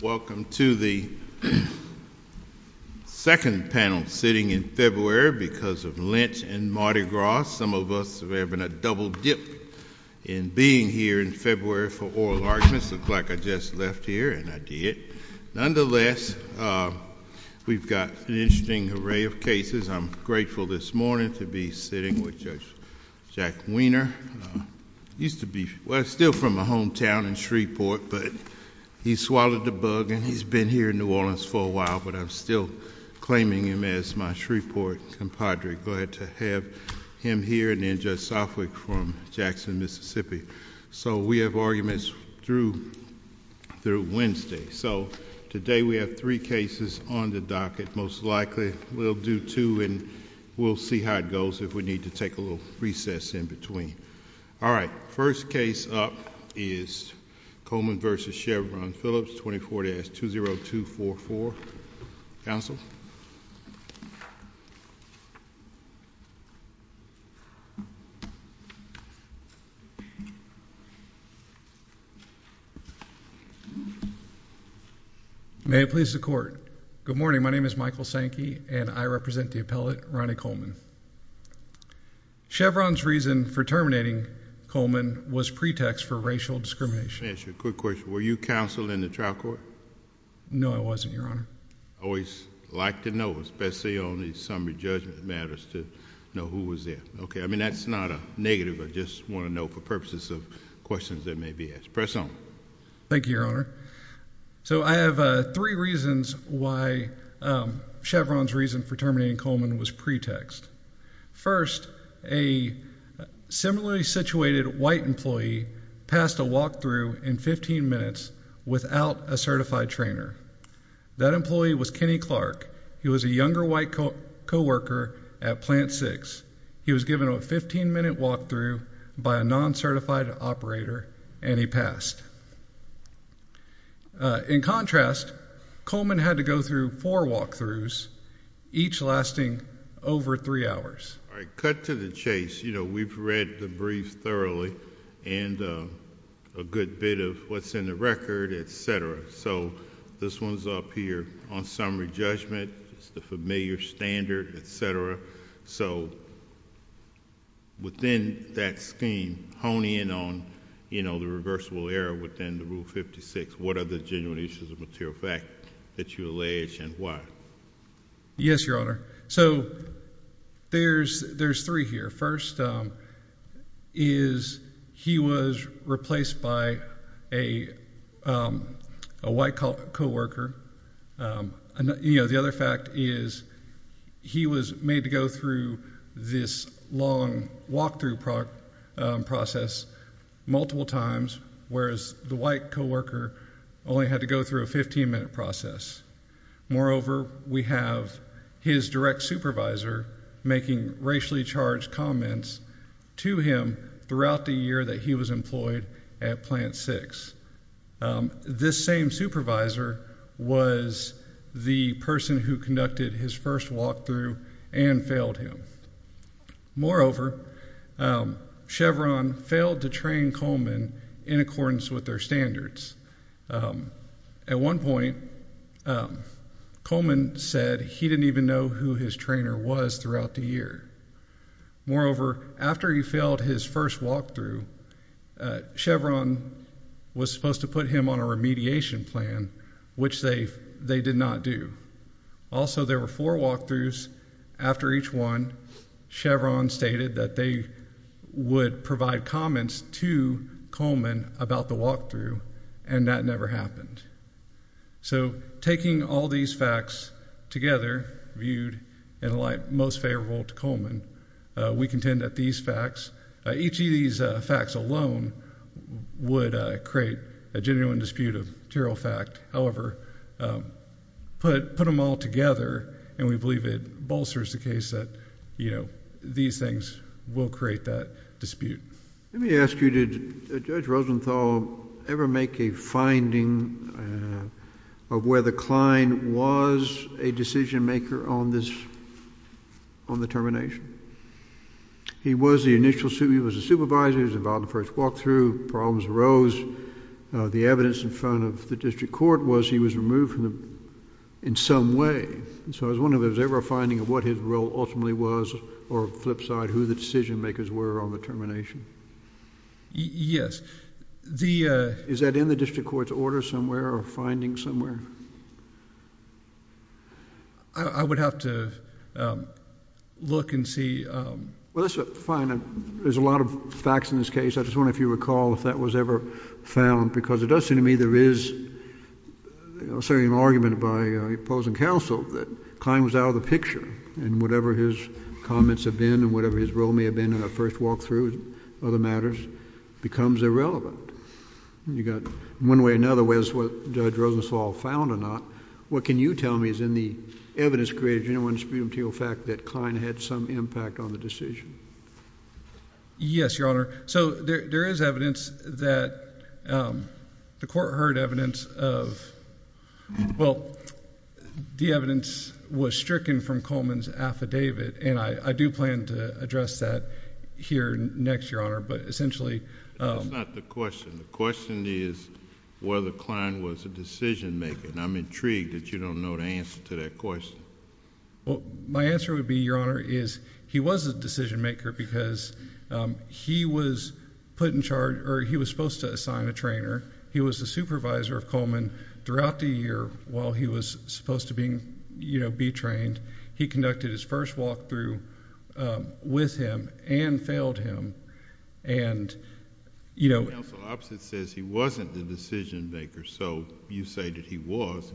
Welcome to the second panel sitting in February because of Lynch and Mardi Gras. Some of us have having a double dip in being here in February for oral arguments. Looks like I just left here and I did. Nonetheless, we've got an interesting array of cases. I'm grateful this morning to be sitting with Judge Jack Weiner. He's still from my hometown in Shreveport, but he swallowed the bug and he's been here in New Orleans for a while, but I'm still claiming him as my Shreveport compadre. Glad to have him here and then Judge Southwick from Jackson, Mississippi. So we have arguments through Wednesday. So today we have three cases on the docket. Most likely we'll do two and we'll see how it recess in between. All right. First case up is Coleman versus Chevron Philips. 24 days to 0244 Council. May it please the court. Good morning. My name is Michael Sankey and I present the appellate Ronnie Coleman. Chevron's reason for terminating Coleman was pretext for racial discrimination. A quick question. Were you counsel in the trial court? No, I wasn't, Your Honor. Always like to know, especially on the summary judgment matters to know who was there. Okay. I mean, that's not a negative. I just want to know for purposes of questions that may be expressed on. Thank you, Your Honor. So I have three reasons why Chevron's reason for terminating Coleman was pretext. First, a similarly situated white employee passed a walk through in 15 minutes without a certified trainer. That employee was Kenny Clark. He was a younger white co worker at Plant six. He was given a 15 minute walk through by a non certified operator, and he passed. In contrast, Coleman had to go through four walk throughs, each lasting over three hours. Cut to the chase. You know, we've read the brief thoroughly and a good bit of what's in the record, etcetera. So this one's up here on summary judgment. It's the familiar standard, etcetera. So within that scheme honing in on, you know, the reversible error within the rule 56. What are the genuine issues of material fact that you allege and why? Yes, Your Honor. So there's there's three here. First, um, is he was replaced by a, um, a white cop co worker. Um, you know, the other fact is he was made to go through this long walk through product process multiple times, whereas the white co worker only had to go through a 15 minute process. Moreover, we have his direct supervisor making racially charged comments to him throughout the year that he was employed at Plant six. Um, this same supervisor was the person who conducted his first walk through and failed him. Moreover, um, Chevron failed to train Coleman in accordance with their standards. Um, at one point, um, Coleman said he didn't even know who his trainer was throughout the year. Moreover, after he failed his first walk through, uh, Chevron was supposed to put him on a remediation plan, which they they did not do. Also, there were four walk throughs. After each one, Chevron stated that they would provide comments to Coleman about the walk through, and that never happened. So taking all these facts together viewed and like most favorable to Coleman, we contend that these facts, each of these facts alone would create a genuine dispute of material fact. However, um, put put them all together, and we believe it bolsters the case that, you know, these things will create that dispute. Let me ask you, did Judge Rosenthal ever make a finding, uh, of where the client was a decision maker on this, on the termination? He was the initial, he was a supervisor. He was involved in the first walk through. Problems arose. Uh, the evidence in front of the district court was he was removed from the, in some way. So I was wondering, was there ever a finding of what his role ultimately was, or flip side, who the decision makers were on the termination? Yes. The, uh, is that in the district court's order somewhere, or finding somewhere? I, I would have to, um, look and see, um. Well, that's fine. There's a lot of facts in this case. I just wonder if you recall if that was ever found, because it does seem to me there is, you know, certainly an argument by, uh, opposing counsel that the client was out of the picture, and whatever his comments have been, and whatever his role may have been in the first walk through, and other matters, becomes irrelevant. You got, one way or another, whether it's what Judge Rosenthal found or not, what can you tell me is in the evidence created, do you know any material fact that the client had some impact on the decision? Yes, Your Honor. So there, there is evidence that, um, the court heard evidence of, well, the evidence was stricken from Coleman's affidavit, and I, I do plan to address that here next, Your Honor, but essentially, um. That's not the question. The question is whether the client was a decision maker, and I'm intrigued that you don't know the answer to that question. Well, my answer would be, Your Honor, is he was a decision maker because, um, he was put in charge, or he was supposed to assign a trainer. He was the supervisor of Coleman throughout the year while he was supposed to be, you know, he conducted his first walk through, um, with him, and failed him, and, you know... The counsel opposite says he wasn't the decision maker, so you say that he was,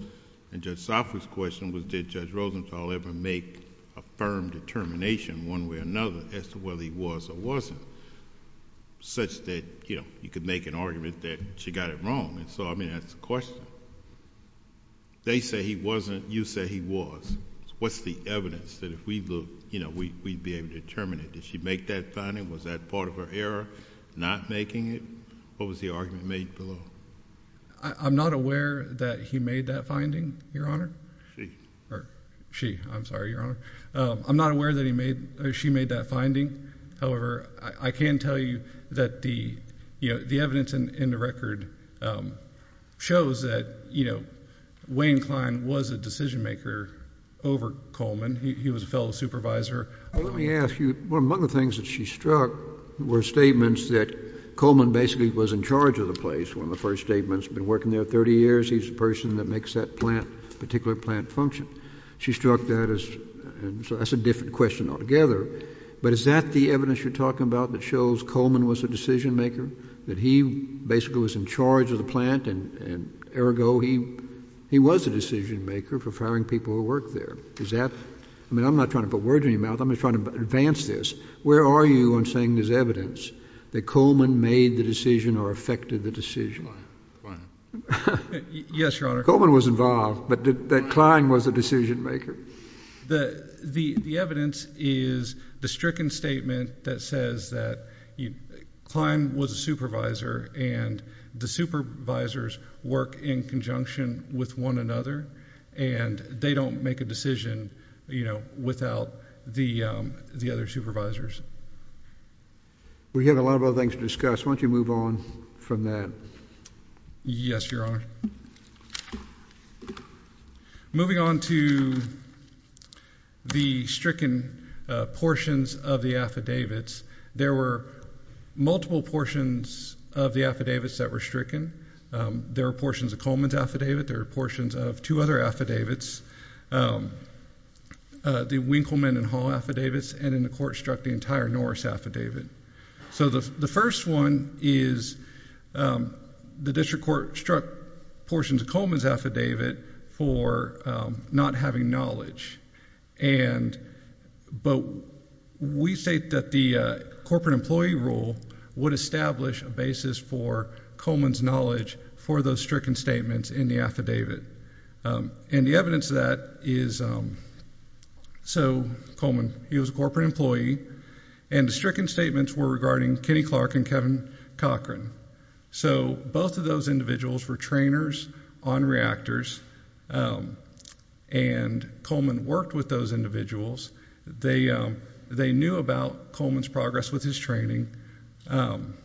and Judge Safra's question was, did Judge Rosenthal ever make a firm determination, one way or another, as to whether he was or wasn't, such that, you know, you could make an argument that she got it wrong, and so, I mean, that's the question. They say he wasn't. You say he was. What's the evidence that if we look, you know, we'd be able to determine it? Did she make that finding? Was that part of her error, not making it? What was the argument made below? I'm not aware that he made that finding, Your Honor. She. Or she. I'm sorry, Your Honor. I'm not aware that he made, or she made that finding. However, I can tell you that the, you know, the evidence in the record shows that, you know, Wayne Kline was a decision maker over Coleman. He was a fellow supervisor. Well, let me ask you, one of the things that she struck were statements that Coleman basically was in charge of the place. One of the first statements, been working there 30 years. He's the person that makes that plant, particular plant, function. She struck that as, and so that's a different question altogether, but is that the evidence you're talking about that shows Coleman was a decision maker, that he basically was in charge of the plant and, and ergo, he, he was a decision maker for firing people who work there? Is that, I mean, I'm not trying to put words in your mouth. I'm just trying to advance this. Where are you on saying there's evidence that Coleman made the decision or affected the decision? Yes, Your Honor. Coleman was involved, but that Kline was a decision maker. The, the, the evidence is the stricken statement that says that Kline was a supervisor and the supervisors work in conjunction with one another and they don't make a decision, you know, without the, um, the other supervisors. We have a lot of other things to discuss. Why don't you move on from that? Yes, Your Honor. Moving on to the stricken portions of the affidavits. There were multiple portions of the affidavits that were stricken. Um, there are portions of Coleman's affidavit. There are portions of two other affidavits. Um, uh, the Winkleman and Hall affidavits. And in the court struck the entire Norris affidavit. So the first one is, um, the district court struck portions of Coleman's affidavit for not having knowledge. And, but we say that the corporate employee rule would establish a basis for Coleman's knowledge for those stricken statements in the affidavit. Um, and the evidence that is, um, so Coleman, he was a corporate employee and the stricken statements were regarding Kenny Clark and Kevin Cochran. So both of those individuals were trainers on reactors. Um, and Coleman worked with those individuals. They, um, they knew about Coleman's progress with his training. Um,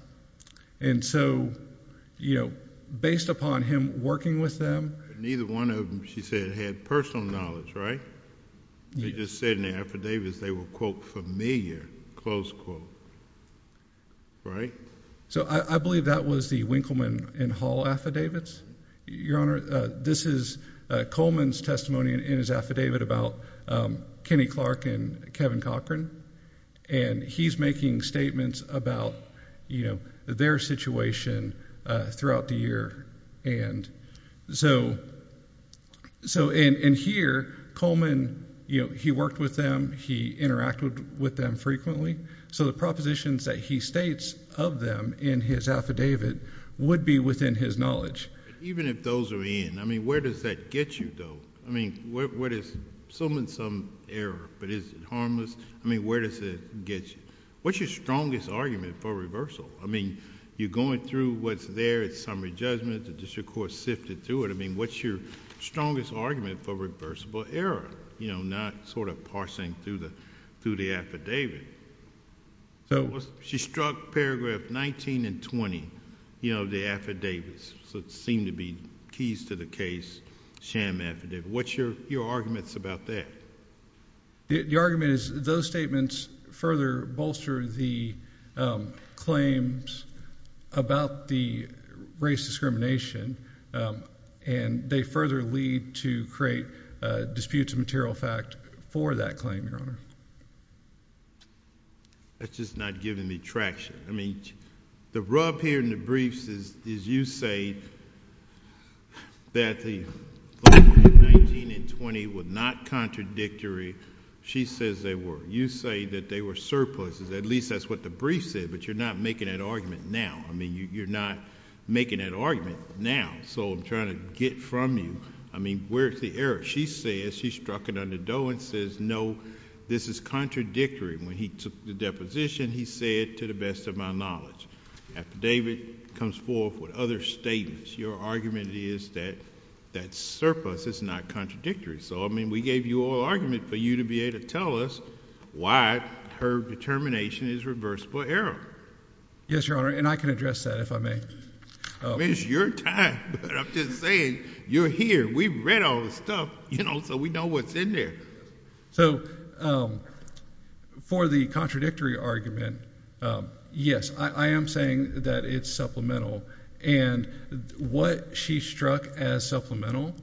and so, you know, based upon him working with them, neither one of them, she said, had personal knowledge, right? They just said in the affidavits they were quote familiar, close quote, right? So I believe that was the Winkleman and Hall affidavits. Your Honor, this is Coleman's testimony in his affidavit about, um, Kenny Clark and Kevin Cochran. And he's making statements about, you know, their situation throughout the year. And so, so in here, Coleman, you know, he interacted with them frequently. So the propositions that he states of them in his affidavit would be within his knowledge. Even if those are in, I mean, where does that get you though? I mean, what is some and some error, but is it harmless? I mean, where does it get you? What's your strongest argument for reversal? I mean, you're going through what's there, it's summary judgment, the district court sifted through it. I mean, what's your strongest argument for reversible error? You know, not sort of parsing through the, through the affidavit. So she struck paragraph 19 and 20. You know, the affidavits seem to be keys to the case sham affidavit. What's your your arguments about that? The argument is those statements further bolster the claims about the race discrimination. Um, and they further lead to create disputes of material fact for that claim. Your honor. That's just not giving me traction. I mean, the rub here in the briefs is, is you say that the 20 would not contradictory. She says they were. You say that they were surpluses. At least that's what the brief said. But you're not making an argument now. I mean, you're not making that argument now. So I'm trying to get from you. I mean, where's the error? She says she struck it under dough and says no, this is contradictory. When he took the deposition, he said, to the best of my knowledge, after David comes forth with other statements, your argument is that that surplus is not contradictory. So I mean, we gave you all argument for you to be able to tell us why her termination is reversible error. Yes, your honor. And I can address that if I may. Oh, it's your time. I'm just saying you're here. We read all the stuff, you know, so we know what's in there. So, um, for the contradictory argument. Um, yes, I am saying that it's supplemental. And what she struck as supplemental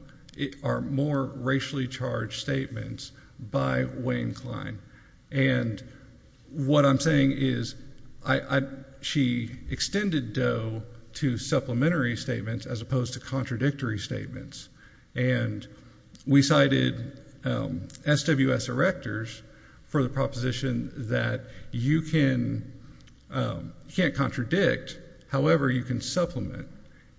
are more racially charged statements by Wayne Klein. And what I'm saying is I she extended dough to supplementary statements as opposed to contradictory statements. And we cited, um, S. W. S. Erectors for the proposition that you can, um, can't contradict. However, you can supplement.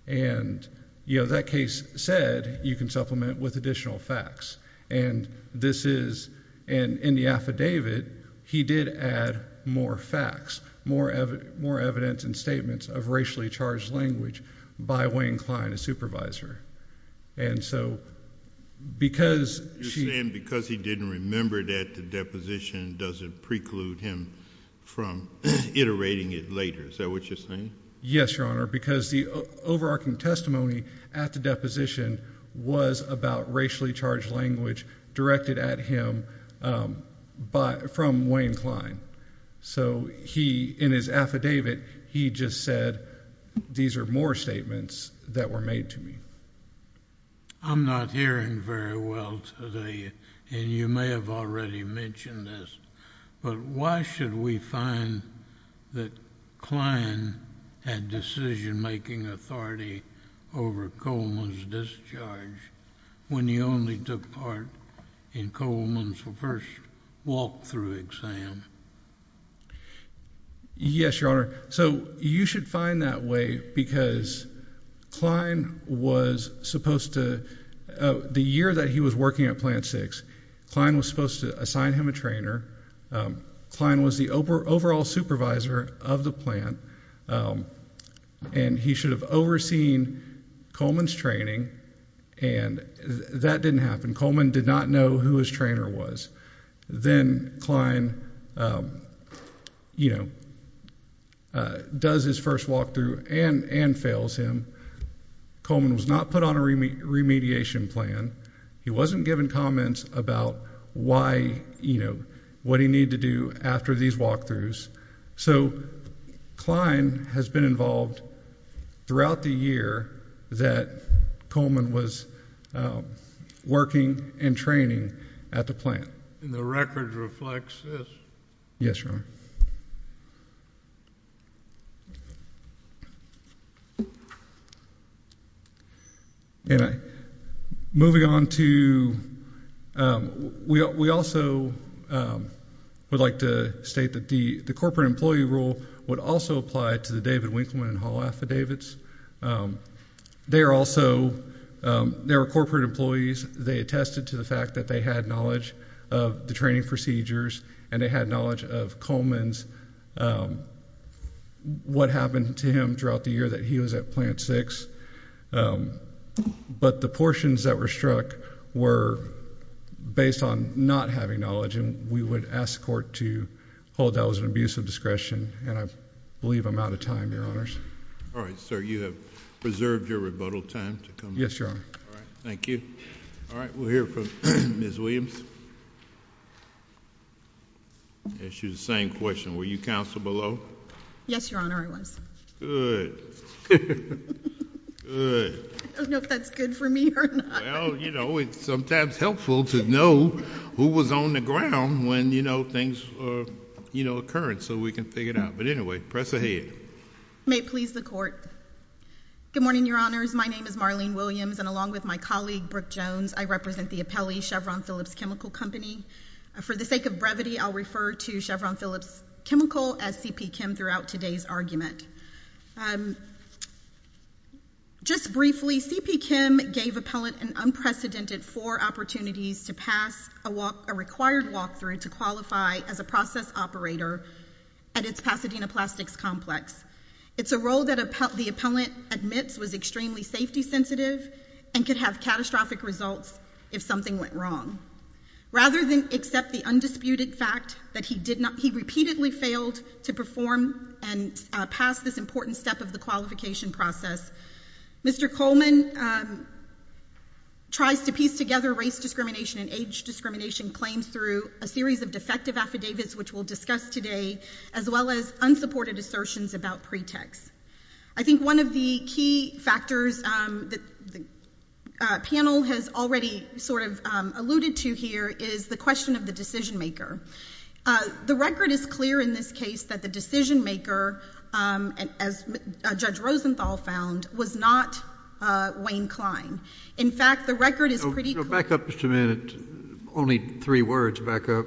And, you know, that case said you can supplement with additional facts. And this is and in the affidavit, he did add more facts, more, more evidence and statements of racially charged language by Wayne Klein, a supervisor. And so because she and because he didn't remember that the deposition doesn't preclude him from iterating it later. Is that what you're saying? Yes, your honor. Because the overarching testimony at the position was about racially charged language directed at him. Um, but from Wayne Klein. So he in his affidavit, he just said, These are more statements that were made to me. I'm not hearing very well today. And you may have already mentioned this. But why should we find that Klein had decision making authority over Coleman's discharge when you only took part in Coleman's first walk through exam? Yes, your honor. So you should find that way because Klein was supposed to the year that he was working at Plant six. Klein was supposed to assign him a trainer. Um, Klein was the overall supervisor of the plant. Um, and he should have overseen Coleman's training. And that didn't happen. Coleman did not know who his trainer was. Then Klein, um, you know, uh, does his first walk through and and fails him. Coleman was not put on a remediation plan. He didn't know what he needed to do after these walk throughs. So Klein has been involved throughout the year that Coleman was, um, working and training at the plant. And the record reflects this. Yes, your honor. Yeah. And moving on to, um, we also, um, would like to state that the corporate employee rule would also apply to the David Winkleman Hall affidavits. Um, they're also, um, there are corporate employees. They attested to the fact that they had knowledge of the training procedures, and they had knowledge of Coleman's, um, what happened to him throughout the year that he was at plant six. Um, but the portions that were struck were based on not having knowledge, and we would ask court to hold that was an abuse of discretion. And I believe I'm out of time. Your honors. All right, sir. You have preserved your rebuttal time to come. Yes, your honor. Thank you. All right. We're from Miss Williams. Issue the same question. Were you counsel below? Yes, your honor. I was good. Good. I don't know if that's good for me. You know, it's sometimes helpful to know who was on the ground when, you know, things, you know, occurrence so we can figure it out. But anyway, press ahead. May please the court. Good morning, your honors. My name is Marlene Williams. And along with my colleague, Brooke Jones, I represent the appellee Chevron Phillips Chemical Company. For the sake of brevity, I'll refer to Chevron Phillips chemical as C. P. Kim throughout today's argument. Um, just briefly, C. P. Kim gave appellant an unprecedented four opportunities to pass a walk a required walk through to qualify as a process operator at its Pasadena Plastics Complex. It's a role that the appellant admits was extremely safety sensitive and could have catastrophic results if something went wrong. Rather than accept the undisputed fact that he did not, he repeatedly failed to perform and pass this important step of the qualification process. Mr Coleman, um, tries to piece together race discrimination and age discrimination claims through a series of defective affidavits, which will discuss today as well as unsupported assertions about pretext. I think one of the key factors that the panel has already sort of alluded to here is the question of the decision maker. The record is clear in this case that the decision maker, um, as Judge Rosenthal found, was not Wayne Klein. In fact, the record is pretty back up just a minute. Only three words back up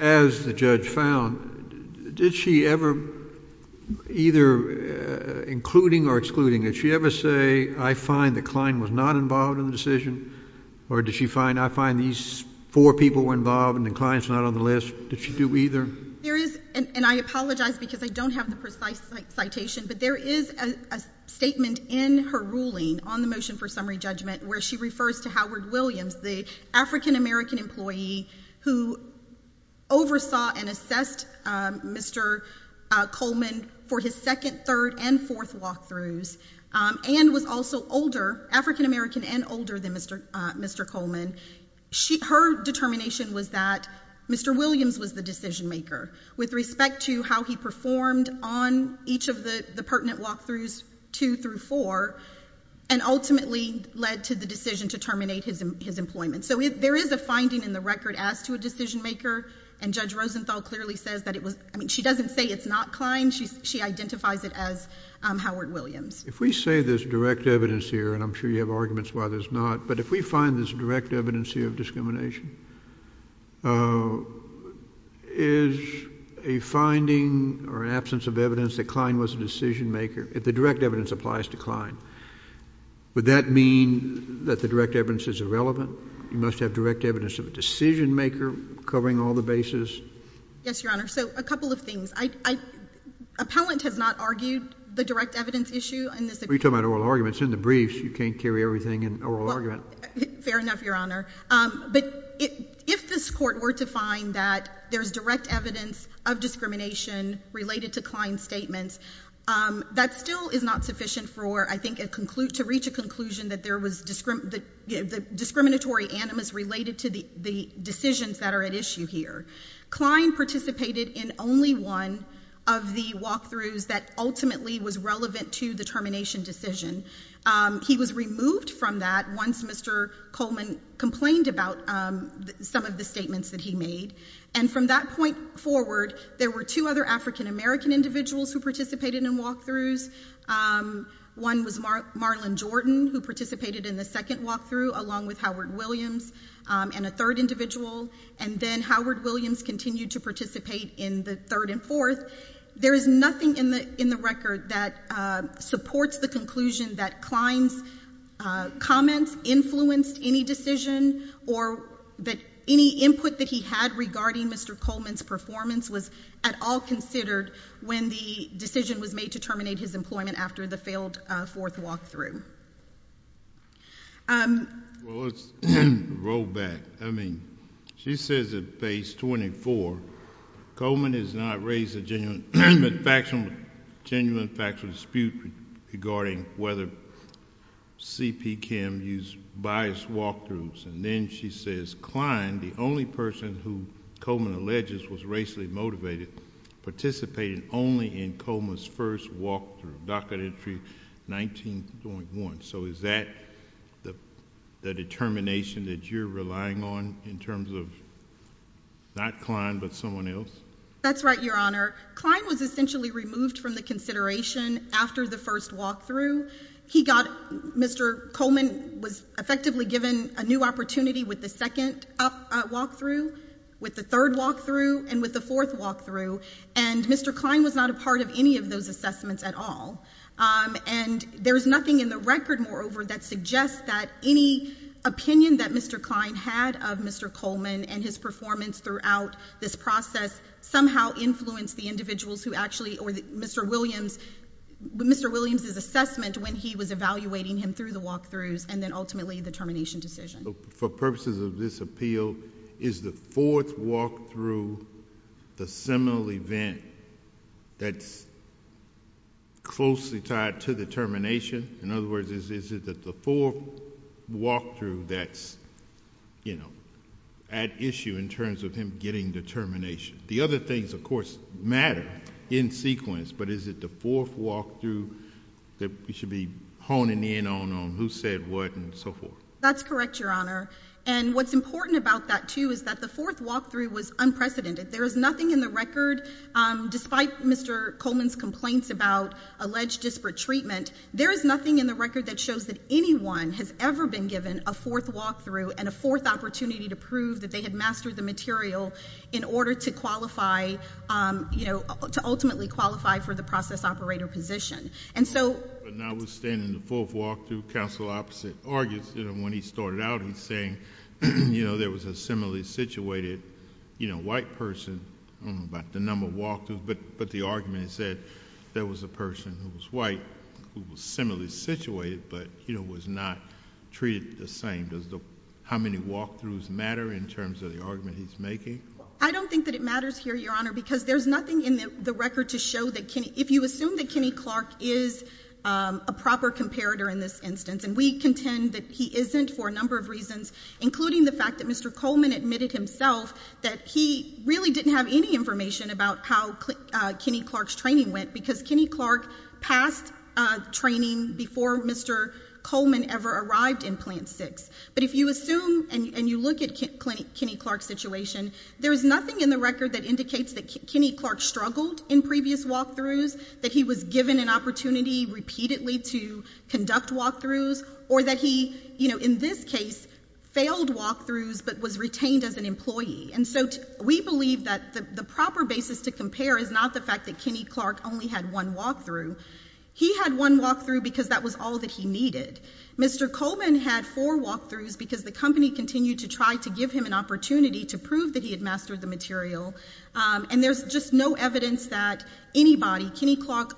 as the judge found. Did she ever either including or excluding? Did she ever say, I find that Klein was not involved in the decision? Or did she find I find these four people were involved and clients not on the list? Did she do either? There is, and I apologize because I don't have the precise citation, but there is a statement in her ruling on the motion for summary judgment where she refers to Howard Williams, the African American employee who oversaw and assessed Mr Coleman for his 2nd, 3rd and 4th walkthroughs, um, and was also older, African American and older than Mr Mr Coleman. She, her determination was that Mr Williams was the decision maker with respect to how he performed on each of the pertinent walkthroughs two through four and ultimately led to the decision to terminate his his employment. So there is a finding in the record as to a decision maker, and Judge Rosenthal clearly says that it was. I mean, she doesn't say it's not Klein. She identifies it as Howard Williams. If we say there's direct evidence here, and I'm sure you have arguments why there's not. But if we find this direct evidence here of uh, is a finding or absence of evidence that Klein was a decision maker. If the direct evidence applies to Klein, would that mean that the direct evidence is irrelevant? You must have direct evidence of a decision maker covering all the bases. Yes, Your Honor. So a couple of things. I appellant has not argued the direct evidence issue in this. We talk about oral arguments in the briefs. You can't carry everything in oral argument. Fair enough, Your Honor. But if this court were to find that there's direct evidence of discrimination related to Klein statements, um, that still is not sufficient for, I think, a conclude to reach a conclusion that there was discriminatory animus related to the decisions that are at issue here. Klein participated in only one of the walkthroughs that ultimately was relevant to the termination decision. He was removed from that once Mr Coleman complained about some of the statements that he made. And from that point forward, there were two other African American individuals who participated in walkthroughs. Um, one was Mar Marlon Jordan, who participated in the second walkthrough, along with Howard Williams, um, and a third individual. And then Howard Williams continued to participate in the third and fourth. There is nothing in the in the record that, uh, supports the conclusion that Klein's, uh, comments influenced any decision or that any input that he had regarding Mr Coleman's performance was at all considered when the decision was made to terminate his employment after the failed, uh, fourth walkthrough. Um, well, let's roll back. I mean, she says at page 24, Coleman has not raised a genuine, factual, genuine factual dispute regarding whether C.P. Kim used biased walkthroughs. And then she says, Klein, the only person who Coleman alleges was racially motivated, participated only in Coleman's first walk through docket entry 19.1. So is that the determination that you're relying on in terms of not Klein, but someone else? That's right, Your Honor. Klein was essentially removed from the consideration after the first walk through. He got Mr Coleman was effectively given a new opportunity with the second walk through with the third walk through and with the fourth walk through. And Mr Klein was not a part of any of those assessments at all. Um, and there's nothing in the record, moreover, that suggests that any opinion that Mr Klein had of Mr Coleman and his performance throughout this process somehow influenced the individuals who actually or Mr Williams, Mr Williams's assessment when he was evaluating him through the walkthroughs and then ultimately the termination decision for purposes of this appeal is the fourth walk through the seminal event that's closely tied to the termination. In other words, is it that the four walk through that's, you know, at issue in terms of him getting determination? The other things, of course, matter in sequence. But is it the fourth walk through that we should be honing in on on who said what and so forth? That's correct, Your Honor. And what's important about that, too, is that the fourth walk through was unprecedented. There is nothing in the record. Um, despite Mr Coleman's complaints about alleged disparate treatment, there is nothing in the record that shows that anyone has ever been given a fourth walk through and a fourth opportunity to prove that they had mastered the material in order to qualify, you know, to ultimately qualify for the process operator position. And so now we're standing the fourth walk through counsel opposite argues, you know, when he started out, he's saying, you know, there was a similarly situated, you know, white person about the number of walk through. But the argument said there was a person who was white who was similarly situated, but, you know, was not treated the same. Does the how many walk throughs matter in terms of the argument he's making? I don't think that it matters here, Your Honor, because there's nothing in the record to show that if you assume that Kenny Clark is a proper comparator in this instance, and we contend that he isn't for a number of reasons, including the fact that Mr Coleman admitted himself that he really didn't have any information about how Kenny Clark's training went because Kenny Clark passed training before Mr Coleman ever arrived in plant six. But if you assume and you look at Kenny Clark situation, there is nothing in the record that indicates that Kenny Clark struggled in previous walk throughs that he was given an opportunity repeatedly to conduct walk throughs or that he, you know, in this case, failed walk throughs but was retained as an employee. And so we believe that the proper basis to compare is not the fact that Kenny Clark only had one walk through. He had one walk through because that was all that he needed. Mr Coleman had four walk throughs because the company continued to try to give him an opportunity to prove that he had mastered the material. Um, and there's just no evidence that anybody, Kenny Clark,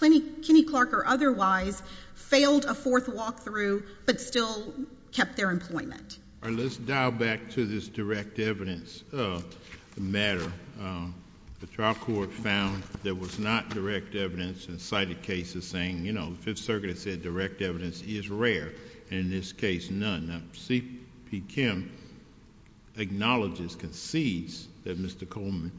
Kenny, Kenny Clark or otherwise failed a fourth walk through but still kept their employment. Let's dial back to this direct evidence of the matter. Um, the trial court found there was not direct evidence and cited cases saying, you know, Fifth Circuit said direct evidence is rare. In this case, none. C. P. Kim acknowledges, concedes that Mr Coleman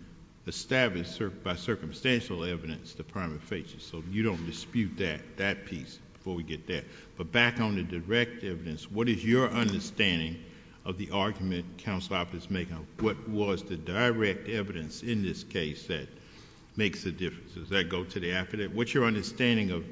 established by circumstantial evidence, the primary faces. So you don't dispute that that piece before we get there. But back on the direct evidence. What is your understanding of the argument council office making? What was the direct evidence in this case that makes the difference? Does that go to the after that? What's your understanding of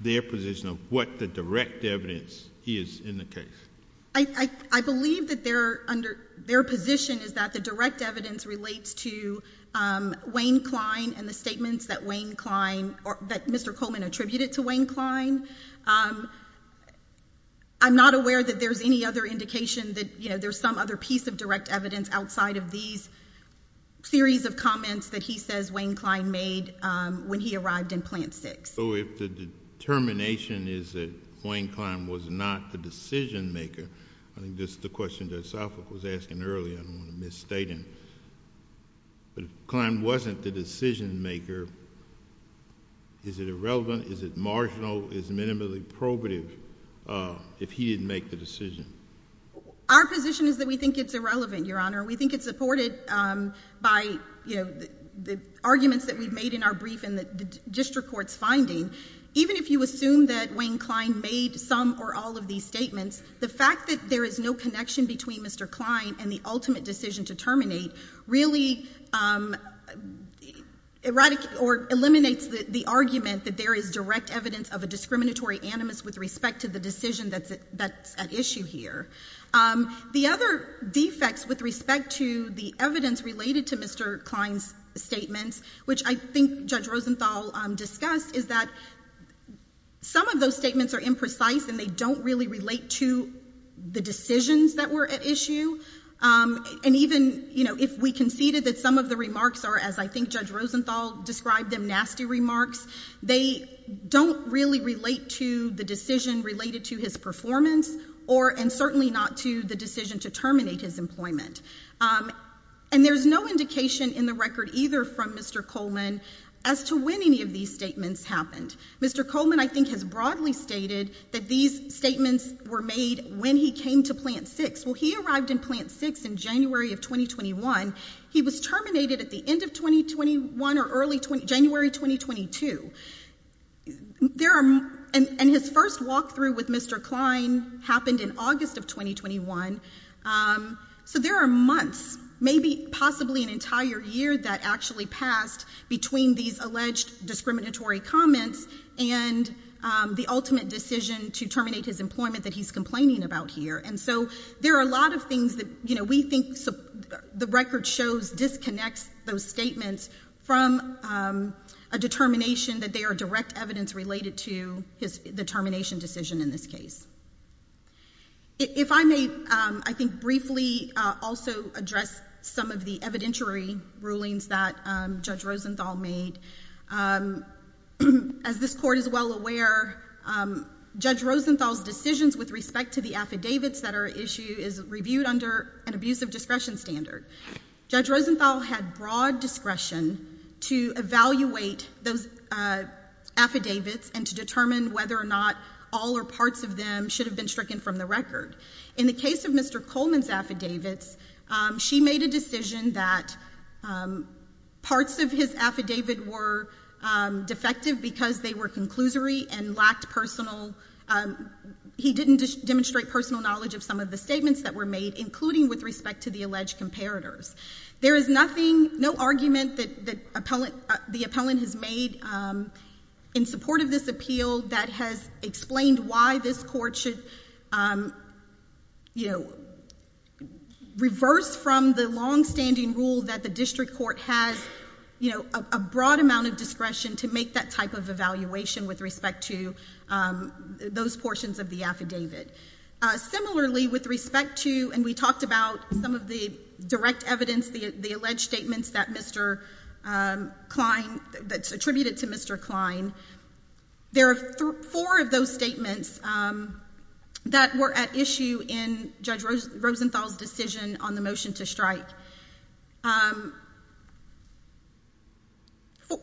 their position of what the direct evidence is in the case? I believe that they're under their position is that the direct evidence relates to, um, Wayne Klein and the statements that Wayne Klein or that Mr Coleman attributed to Wayne Klein. Um, I'm not aware that there's any other indication that, you know, there's some other piece of direct evidence outside of these series of comments that he says Wayne Klein made when he arrived in plant six. So if the determination is that Wayne Klein was not the decision maker, I think this is the question that Southwick was asking earlier. I don't want to misstate him. But if Klein wasn't the decision maker, is it irrelevant? Is it marginal? Is minimally probative? Uh, if he didn't make the decision, our position is that we think it's irrelevant, Your Honor. We think it's supported by, you know, the arguments that we've made in our brief in the district court's finding. Even if you assume that Wayne Klein made some or all of these statements, the fact that there is no connection between Mr Klein and the ultimate decision to terminate really, um, erotic or eliminates the argument that there is direct evidence of a discriminatory animus with respect to the decision that's that's at issue here. Um, the other defects with respect to the evidence related to Mr Klein's statements, which I think Judge Rosenthal discussed, is that some of those statements are imprecise and they don't really relate to the decisions that were at issue. Um, and even, you know, if we conceded that some of the remarks are, as I think Judge Rosenthal described them, nasty remarks. They don't really relate to the decision related to his performance or and certainly not to the decision to terminate his employment. Um, and there's no indication in the record either from Mr Coleman as to when any of these statements happened. Mr Coleman, I think has broadly stated that these statements were made when he came to plant six. Well, he arrived in plant six in January of 2021. He was terminated at the end of 2021 or early 20 January 2022. There are and his first walk through with Mr Klein happened in August of 2021. Um, so there are months, maybe possibly an entire year that actually passed between these alleged discriminatory comments and the ultimate decision to terminate his employment that he's complaining about here. And so there are a lot of things that you know, we think the record shows disconnects those statements from a determination that they are direct evidence related to his determination decision in this case. If I may, I think briefly also address some of the evidentiary rulings that Judge Rosenthal made. Um, as this court is well aware, um, Judge Rosenthal's decisions with respect to the affidavits that are issue is reviewed under an abusive discretion standard. Judge Rosenthal had broad discretion to evaluate those, uh, affidavits and to determine whether or not all or none of them should have been stricken from the record. In the case of Mr Coleman's affidavits, she made a decision that, um, parts of his affidavit were, um, defective because they were conclusory and lacked personal. Um, he didn't demonstrate personal knowledge of some of the statements that were made, including with respect to the alleged comparators. There is nothing, no argument that the appellant has made, um, in support of this appeal that has explained why this court should, um, you know, reverse from the longstanding rule that the district court has, you know, a broad amount of discretion to make that type of evaluation with respect to, um, those portions of the affidavit. Similarly, with respect to, and we talked about some of the direct evidence, the alleged statements that Mr, um, Klein, that's attributed to Mr. Klein, there are four of those statements, um, that were at issue in Judge Rosenthal's decision on the motion to strike. Um,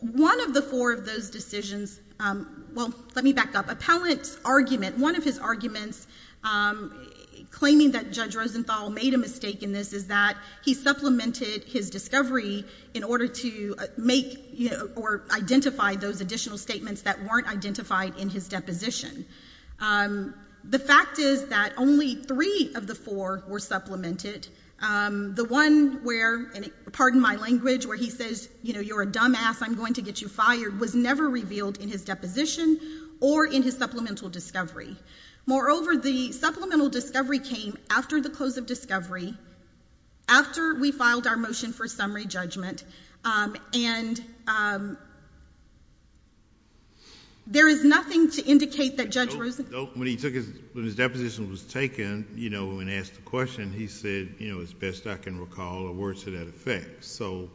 one of the four of those decisions, um, well, let me back up. Appellant's argument, one of his arguments, um, claiming that Judge Rosenthal made a mistake in this is that he supplemented his discovery in order to make, you know, or identify those additional statements that weren't identified in his deposition. Um, the fact is that only three of the four were supplemented. Um, the one where, pardon my language, where he says, you know, you're a dumbass, I'm going to get you fired, was never revealed in his deposition or in his supplemental discovery. Moreover, the supplemental discovery came after the close of discovery, after we filed our motion for summary judgment. Um, and, um, there is nothing to indicate that Judge Rosenthal, when he took his, when his deposition was taken, you know, when asked the question, he said, you know, as best I can recall, or words to that effect. So,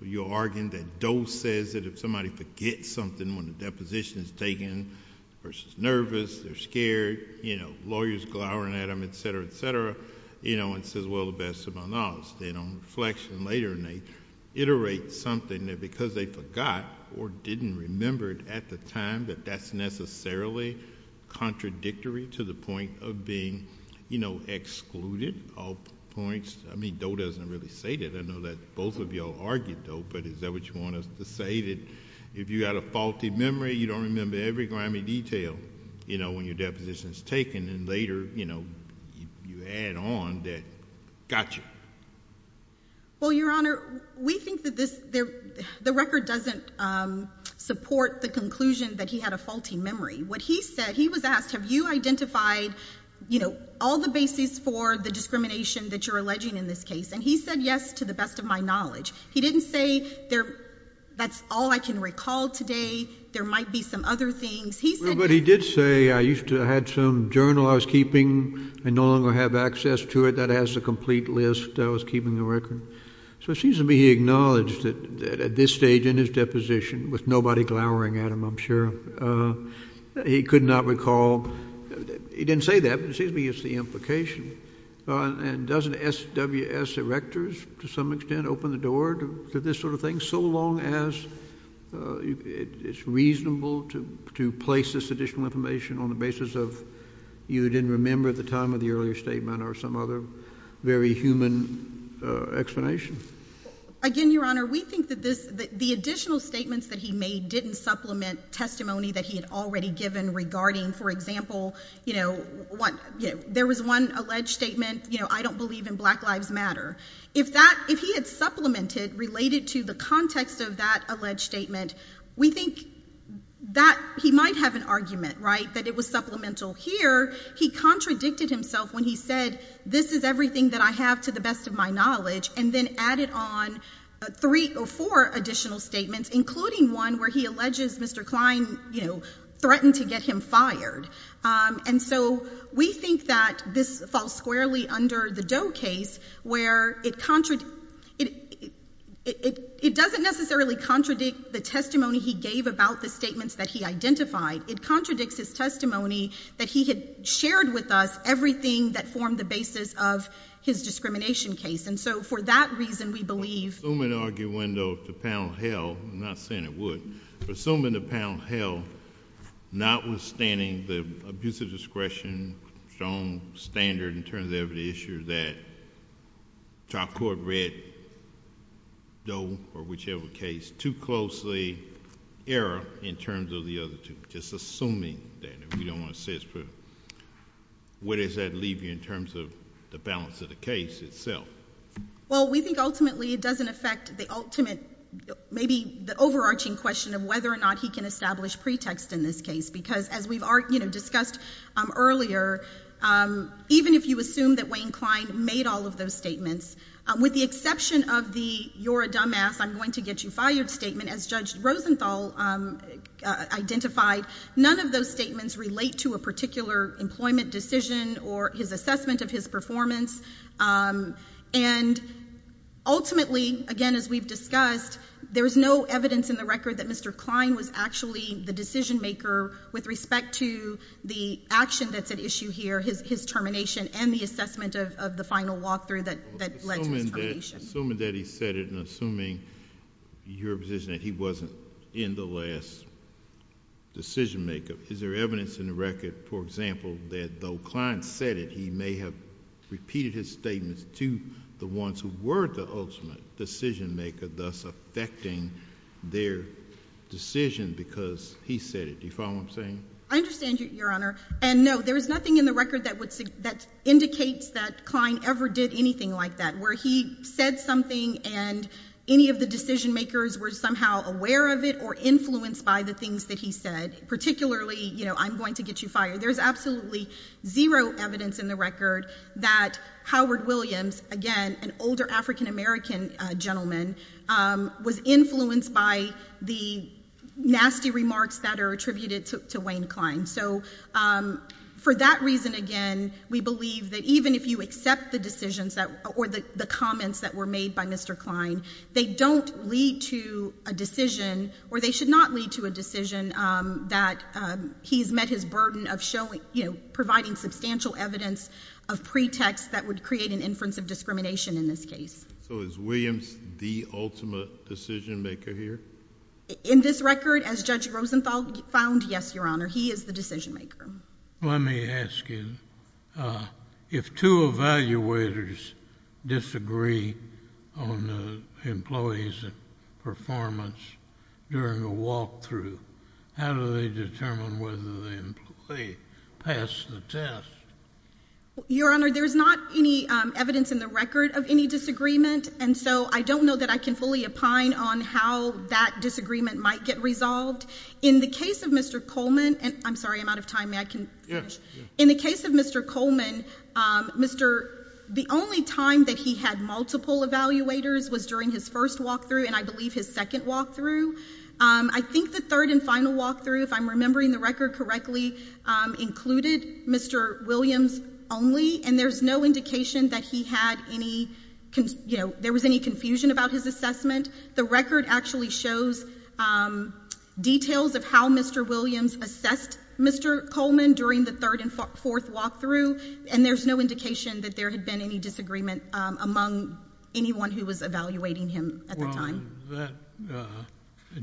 you're arguing that Doe says that if somebody forgets something when the deposition is taken versus nervous or scared, you know, lawyers glowering at him, et cetera, et cetera, you know, and says, well, the best of my knowledge. They don't reflect and later they iterate something that because they forgot or didn't remember it at the time, that that's necessarily contradictory to the point of being, you know, excluded, all points. I mean, Doe doesn't really say that. I know that both of y'all argued, though, but is that what you want us to say that if you had a faulty memory, you don't remember every grammy detail, you know, when your deposition is taken and later, you know, you add on that. Gotcha. Well, Your Honor, we think that this, the record doesn't support the conclusion that he had a faulty memory. What he said, he was asked, Have you identified, you know, all the basis for the discrimination that you're alleging in this case? And he said yes, to the best of my knowledge. He didn't say there. That's all I can recall today. There might be some other things he said, but he did say I used to had some journal I was keeping. I no longer have access to it. That has a complete list that was keeping the record. So it seems to be acknowledged that at this stage in his deposition with nobody glowering at him, I'm sure, uh, he could not recall. He didn't say that. It seems to me it's the implication on and doesn't S. W. S. Erectors to some extent, open the door to this sort of thing. So long as, uh, it's reasonable to to place this additional information on the basis of you didn't remember the time of the earlier statement or some other very human explanation. Again, Your Honor, we think that this the additional statements that he made didn't supplement testimony that he had already given regarding, for example, you know what? There was one alleged statement. You know, I don't believe in lives matter. If that if he had supplemented related to the context of that alleged statement, we think that he might have an argument, right? That it was supplemental here. He contradicted himself when he said this is everything that I have to the best of my knowledge and then added on three or four additional statements, including one where he alleges Mr Klein, you know, threatened to get him fired. Um, and so we think that this falls squarely under the dough case where it contradict it. It doesn't necessarily contradict the testimony he gave about the statements that he identified. It contradicts his testimony that he had shared with us everything that formed the basis of his discrimination case. And so, for that reason, we believe assuming argue window to pound hell, not saying it would assume in the pound hell, notwithstanding the abuse of discretion, strong standard in terms of the issue that top court read no or whichever case too closely error in terms of the other two, just assuming that we don't want to say it's true. What is that leave you in terms of the balance of the case itself? Well, we think ultimately it doesn't affect the ultimate, maybe the overarching question of whether or not he can establish pretext in this case, because as we've discussed earlier, um, even if you assume that Wayne Klein made all of those statements with the exception of the you're a dumb ass, I'm going to get you fired statement as Judge Rosenthal identified. None of those statements relate to a particular employment decision or his assessment of his performance. Um, and ultimately, again, as we've discussed, there's no evidence in the record that Mr Klein was actually the decision maker with respect to the action that's at issue here, his termination and the assessment of the final walk through that that led to his termination. Assuming that he said it and assuming your position that he wasn't in the last decision maker. Is there evidence in the record, for example, that though Klein said it, he may have repeated his statements to the ones who were the decision maker, thus affecting their decision because he said it. You follow what I'm saying? I understand you, Your Honor. And no, there is nothing in the record that would that indicates that Klein ever did anything like that, where he said something and any of the decision makers were somehow aware of it or influenced by the things that he said, particularly, you know, I'm going to get you fired. There's absolutely zero evidence in the record that Howard Williams, again, an older African American gentleman, was influenced by the nasty remarks that are attributed to Wayne Klein. So, um, for that reason, again, we believe that even if you accept the decisions that or the comments that were made by Mr Klein, they don't lead to a decision or they should not lead to a decision that he's met his burden of showing, you know, providing substantial evidence of pretext that would create an inference of discrimination in this case. So is Williams the ultimate decision maker here? In this record, as Judge Rosenthal found? Yes, Your Honor. He is the decision maker. Let me ask you, uh, if two evaluators disagree on the employees performance during the walkthrough, how do they determine whether they pass the test? Your Honor, there's not any evidence in the record of any disagreement, and so I don't know that I can fully opine on how that disagreement might get resolved in the case of Mr Coleman. And I'm sorry I'm out of time. May I can in the case of Mr Coleman, Mr. The only time that he had multiple evaluators was during his first walk through, and I believe his second walk through. I think the third and final walk through, if I'm remembering the record correctly, included Mr Williams only, and there's no indication that he had any, you know, there was any confusion about his assessment. The record actually shows, um, details of how Mr Williams assessed Mr Coleman during the third and fourth walk through, and there's no indication that there had been any disagreement among anyone who was evaluating him at the time.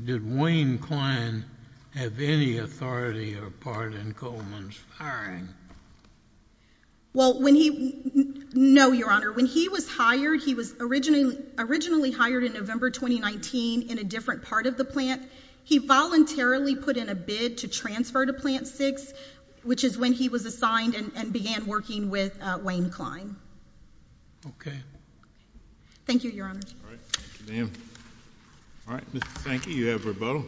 Did Wayne Klein have any authority or part in Coleman's firing? Well, when he, no, Your Honor, when he was hired, he was originally hired in November 2019 in a different part of the plant. He voluntarily put in a bid to transfer to Plant 6, which is when he was assigned and began working with Wayne Klein. Okay. Thank you, Your Honor. All right. Thank you. You have rebuttal.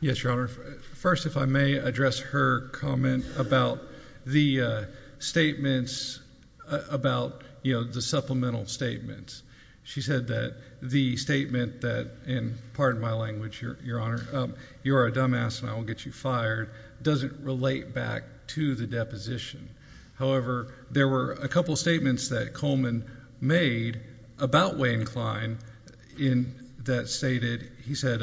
Yes, Your Honor. First, if I may address her comment about the statements about, you know, the supplemental statements. She said that the statement that, and pardon my language, Your Honor, you are a dumbass and I will get you fired, doesn't relate back to the deposition. However, there were a couple statements that Coleman made about Wayne Klein that stated, he said,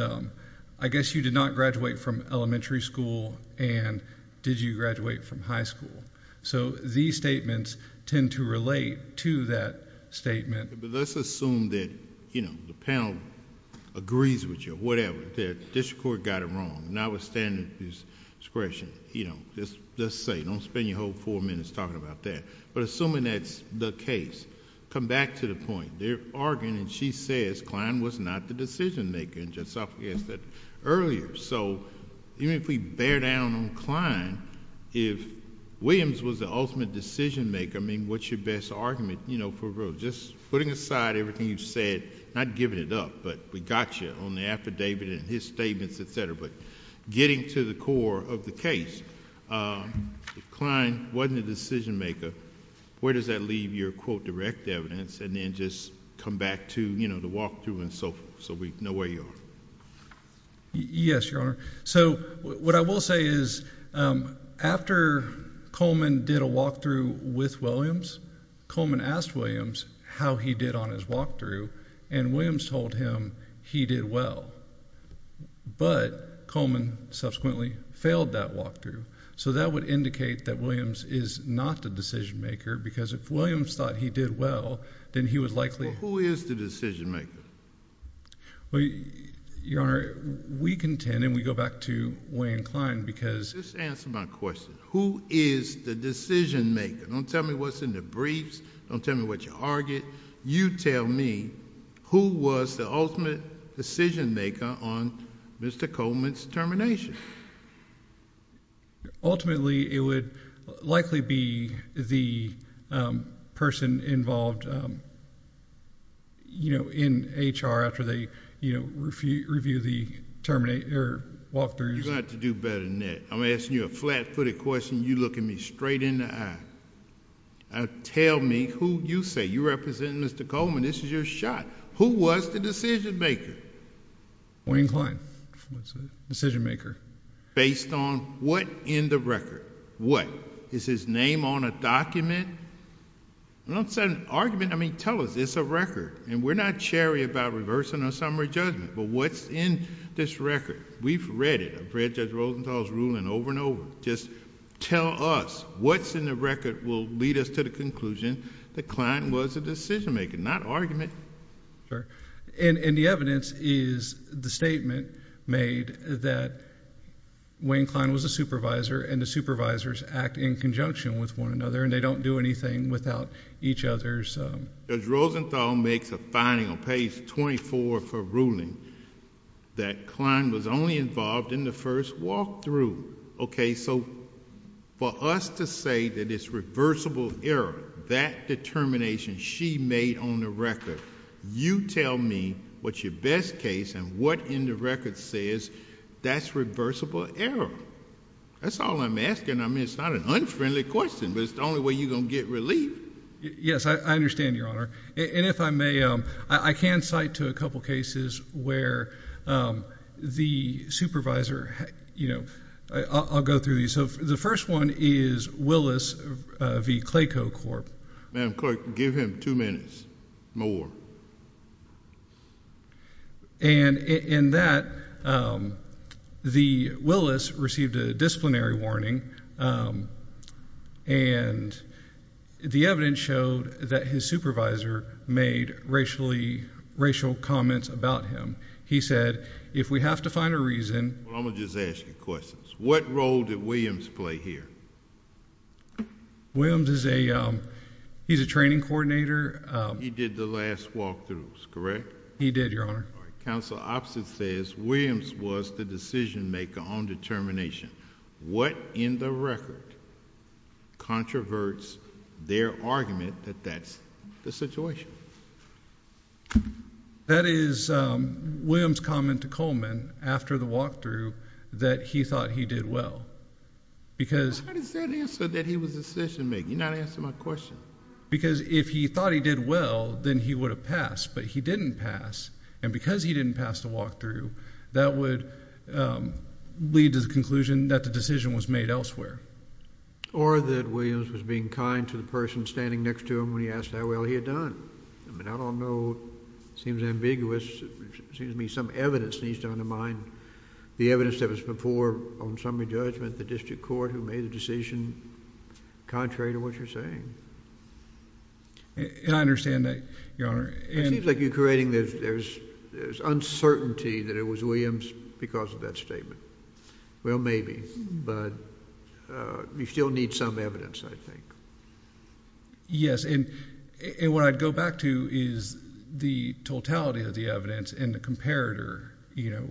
I guess you did not graduate from elementary school, and did you graduate from high school? So these statements tend to relate to that statement. But let's assume that, you know, the panel agrees with you, whatever, that district court got it wrong, notwithstanding his discretion. You know, let's say, don't spend your whole four minutes talking about that, but assuming that's the case, come back to the point. They're arguing and she says Klein was not the decision maker, and Judge Sophie asked that earlier. So even if we bear down on Klein, if Williams was the ultimate decision maker, I mean, what's your best argument, you know, for real? Just putting aside everything you've said, not giving it up, but we got you on the affidavit and his statements, etc. But getting to the core of the case, if Klein wasn't the decision maker, where does that leave your, quote, direct evidence, and then just come back to, you know, the walkthrough and so forth, so we know where you are? Yes, Your Honor. So what I will say is, um, after Coleman did a walkthrough with Williams, Coleman asked Williams how he did on his walkthrough, and Williams told him he did well. But Coleman subsequently failed that walkthrough. So that would indicate that Williams is not the decision maker, because if Williams thought he did well, then he would likely... Well, who is the decision maker? Well, Your Honor, we contend, and we go back to Wayne Klein, because... Just answer my question. Who is the decision maker? Don't tell me what's in the briefs. Don't tell me what you argued. You tell me who was the ultimate decision maker on Mr. Coleman's termination. Ultimately, it would likely be the person involved, you know, in HR, after they, you know, review the walkthroughs. You've got to do better than that. I'm asking you a flat-footed question, and you're looking me straight in the eye. Now, tell me who you say. You represent Mr. Coleman. This is your shot. Who was the decision maker? Wayne Klein was the decision maker. Based on what in the record? What? Is his name on a document? Don't set an argument. I mean, tell us. It's a record, and we're not cherry about reversing a summary judgment, but what's in this record? We've read it. I've read Judge Rosenthal's ruling over and over. Just tell us. What's in the record will lead us to the conclusion that Klein was a decision maker, not an argument. And the evidence is the statement made that Wayne Klein was a supervisor, and the supervisors act in conjunction with one another, and they don't do anything without each other. Judge Rosenthal makes a finding on page 24 of her ruling that Klein was only involved in the first walkthrough. Okay, so for us to say that it's reversible error, that determination she made on the record, you tell me what's your best case and what in the record says that's reversible error. That's all I'm asking. I mean, it's not an unfriendly question, but it's the only way you're going to get relief. Yes, I understand, Your Honor. And if I may, I can cite to a couple cases where the supervisor... I'll go through these. So the first one is Willis v. Clayco Corp. Madam Court, give him two minutes, more. And in that, Willis received a disciplinary warning, and the evidence showed that his supervisor made racially... racial comments about him. He said, if we have to find a reason... I'm just asking questions. What role did Williams play here? Williams is a... he's a training coordinator. He did the last walkthroughs, correct? He did, Your Honor. All right. Counsel Oppson says Williams was the decision-maker on determination. What in the record controverts their argument that that's the situation? That is Williams' comment to Coleman, after the walkthrough, that he thought he did well. Because... How does that answer that he was a decision-maker? You're not answering my question. Because if he thought he did well, then he would have passed. But he didn't pass. And because he didn't pass the walkthrough, that would lead to the conclusion that the decision was made elsewhere. Or that Williams was being kind to the person standing next to him when he asked how well he had done. I mean, I don't know. It seems ambiguous. It seems to me some evidence needs to undermine the evidence that was before on summary judgment, the district court, who made the decision contrary to what you're saying. And I understand that, Your Honor. It seems like you're creating... there's uncertainty that it was Williams because of that statement. Well, maybe. But you still need some evidence, I think. Yes. And what I'd go back to is the totality of the evidence and the comparator,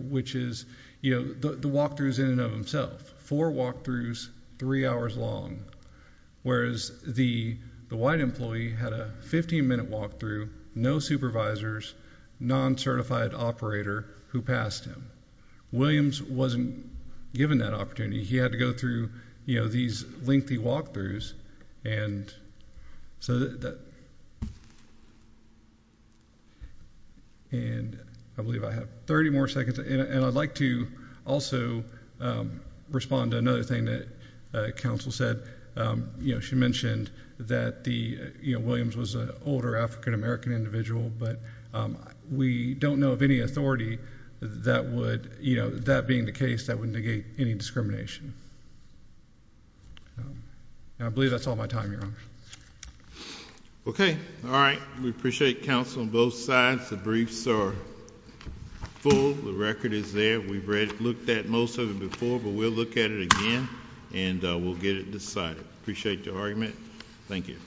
which is the walkthroughs in and of themselves. Four walkthroughs, three hours long. Whereas the white employee had a 15-minute walkthrough, no supervisors, non-certified operator who passed him. Williams wasn't given that opportunity. He had to go through these lengthy walkthroughs. And I believe I have 30 more seconds. And I'd like to also respond to another thing that counsel said. She mentioned that Williams was an older African-American individual. But we don't know of any minority that would... you know, that being the case, that would negate any discrimination. And I believe that's all my time, Your Honor. Okay. All right. We appreciate counsel on both sides. The briefs are full. The record is there. We've looked at most of it before, but we'll look at it again and we'll get it decided. Appreciate your argument. Thank you.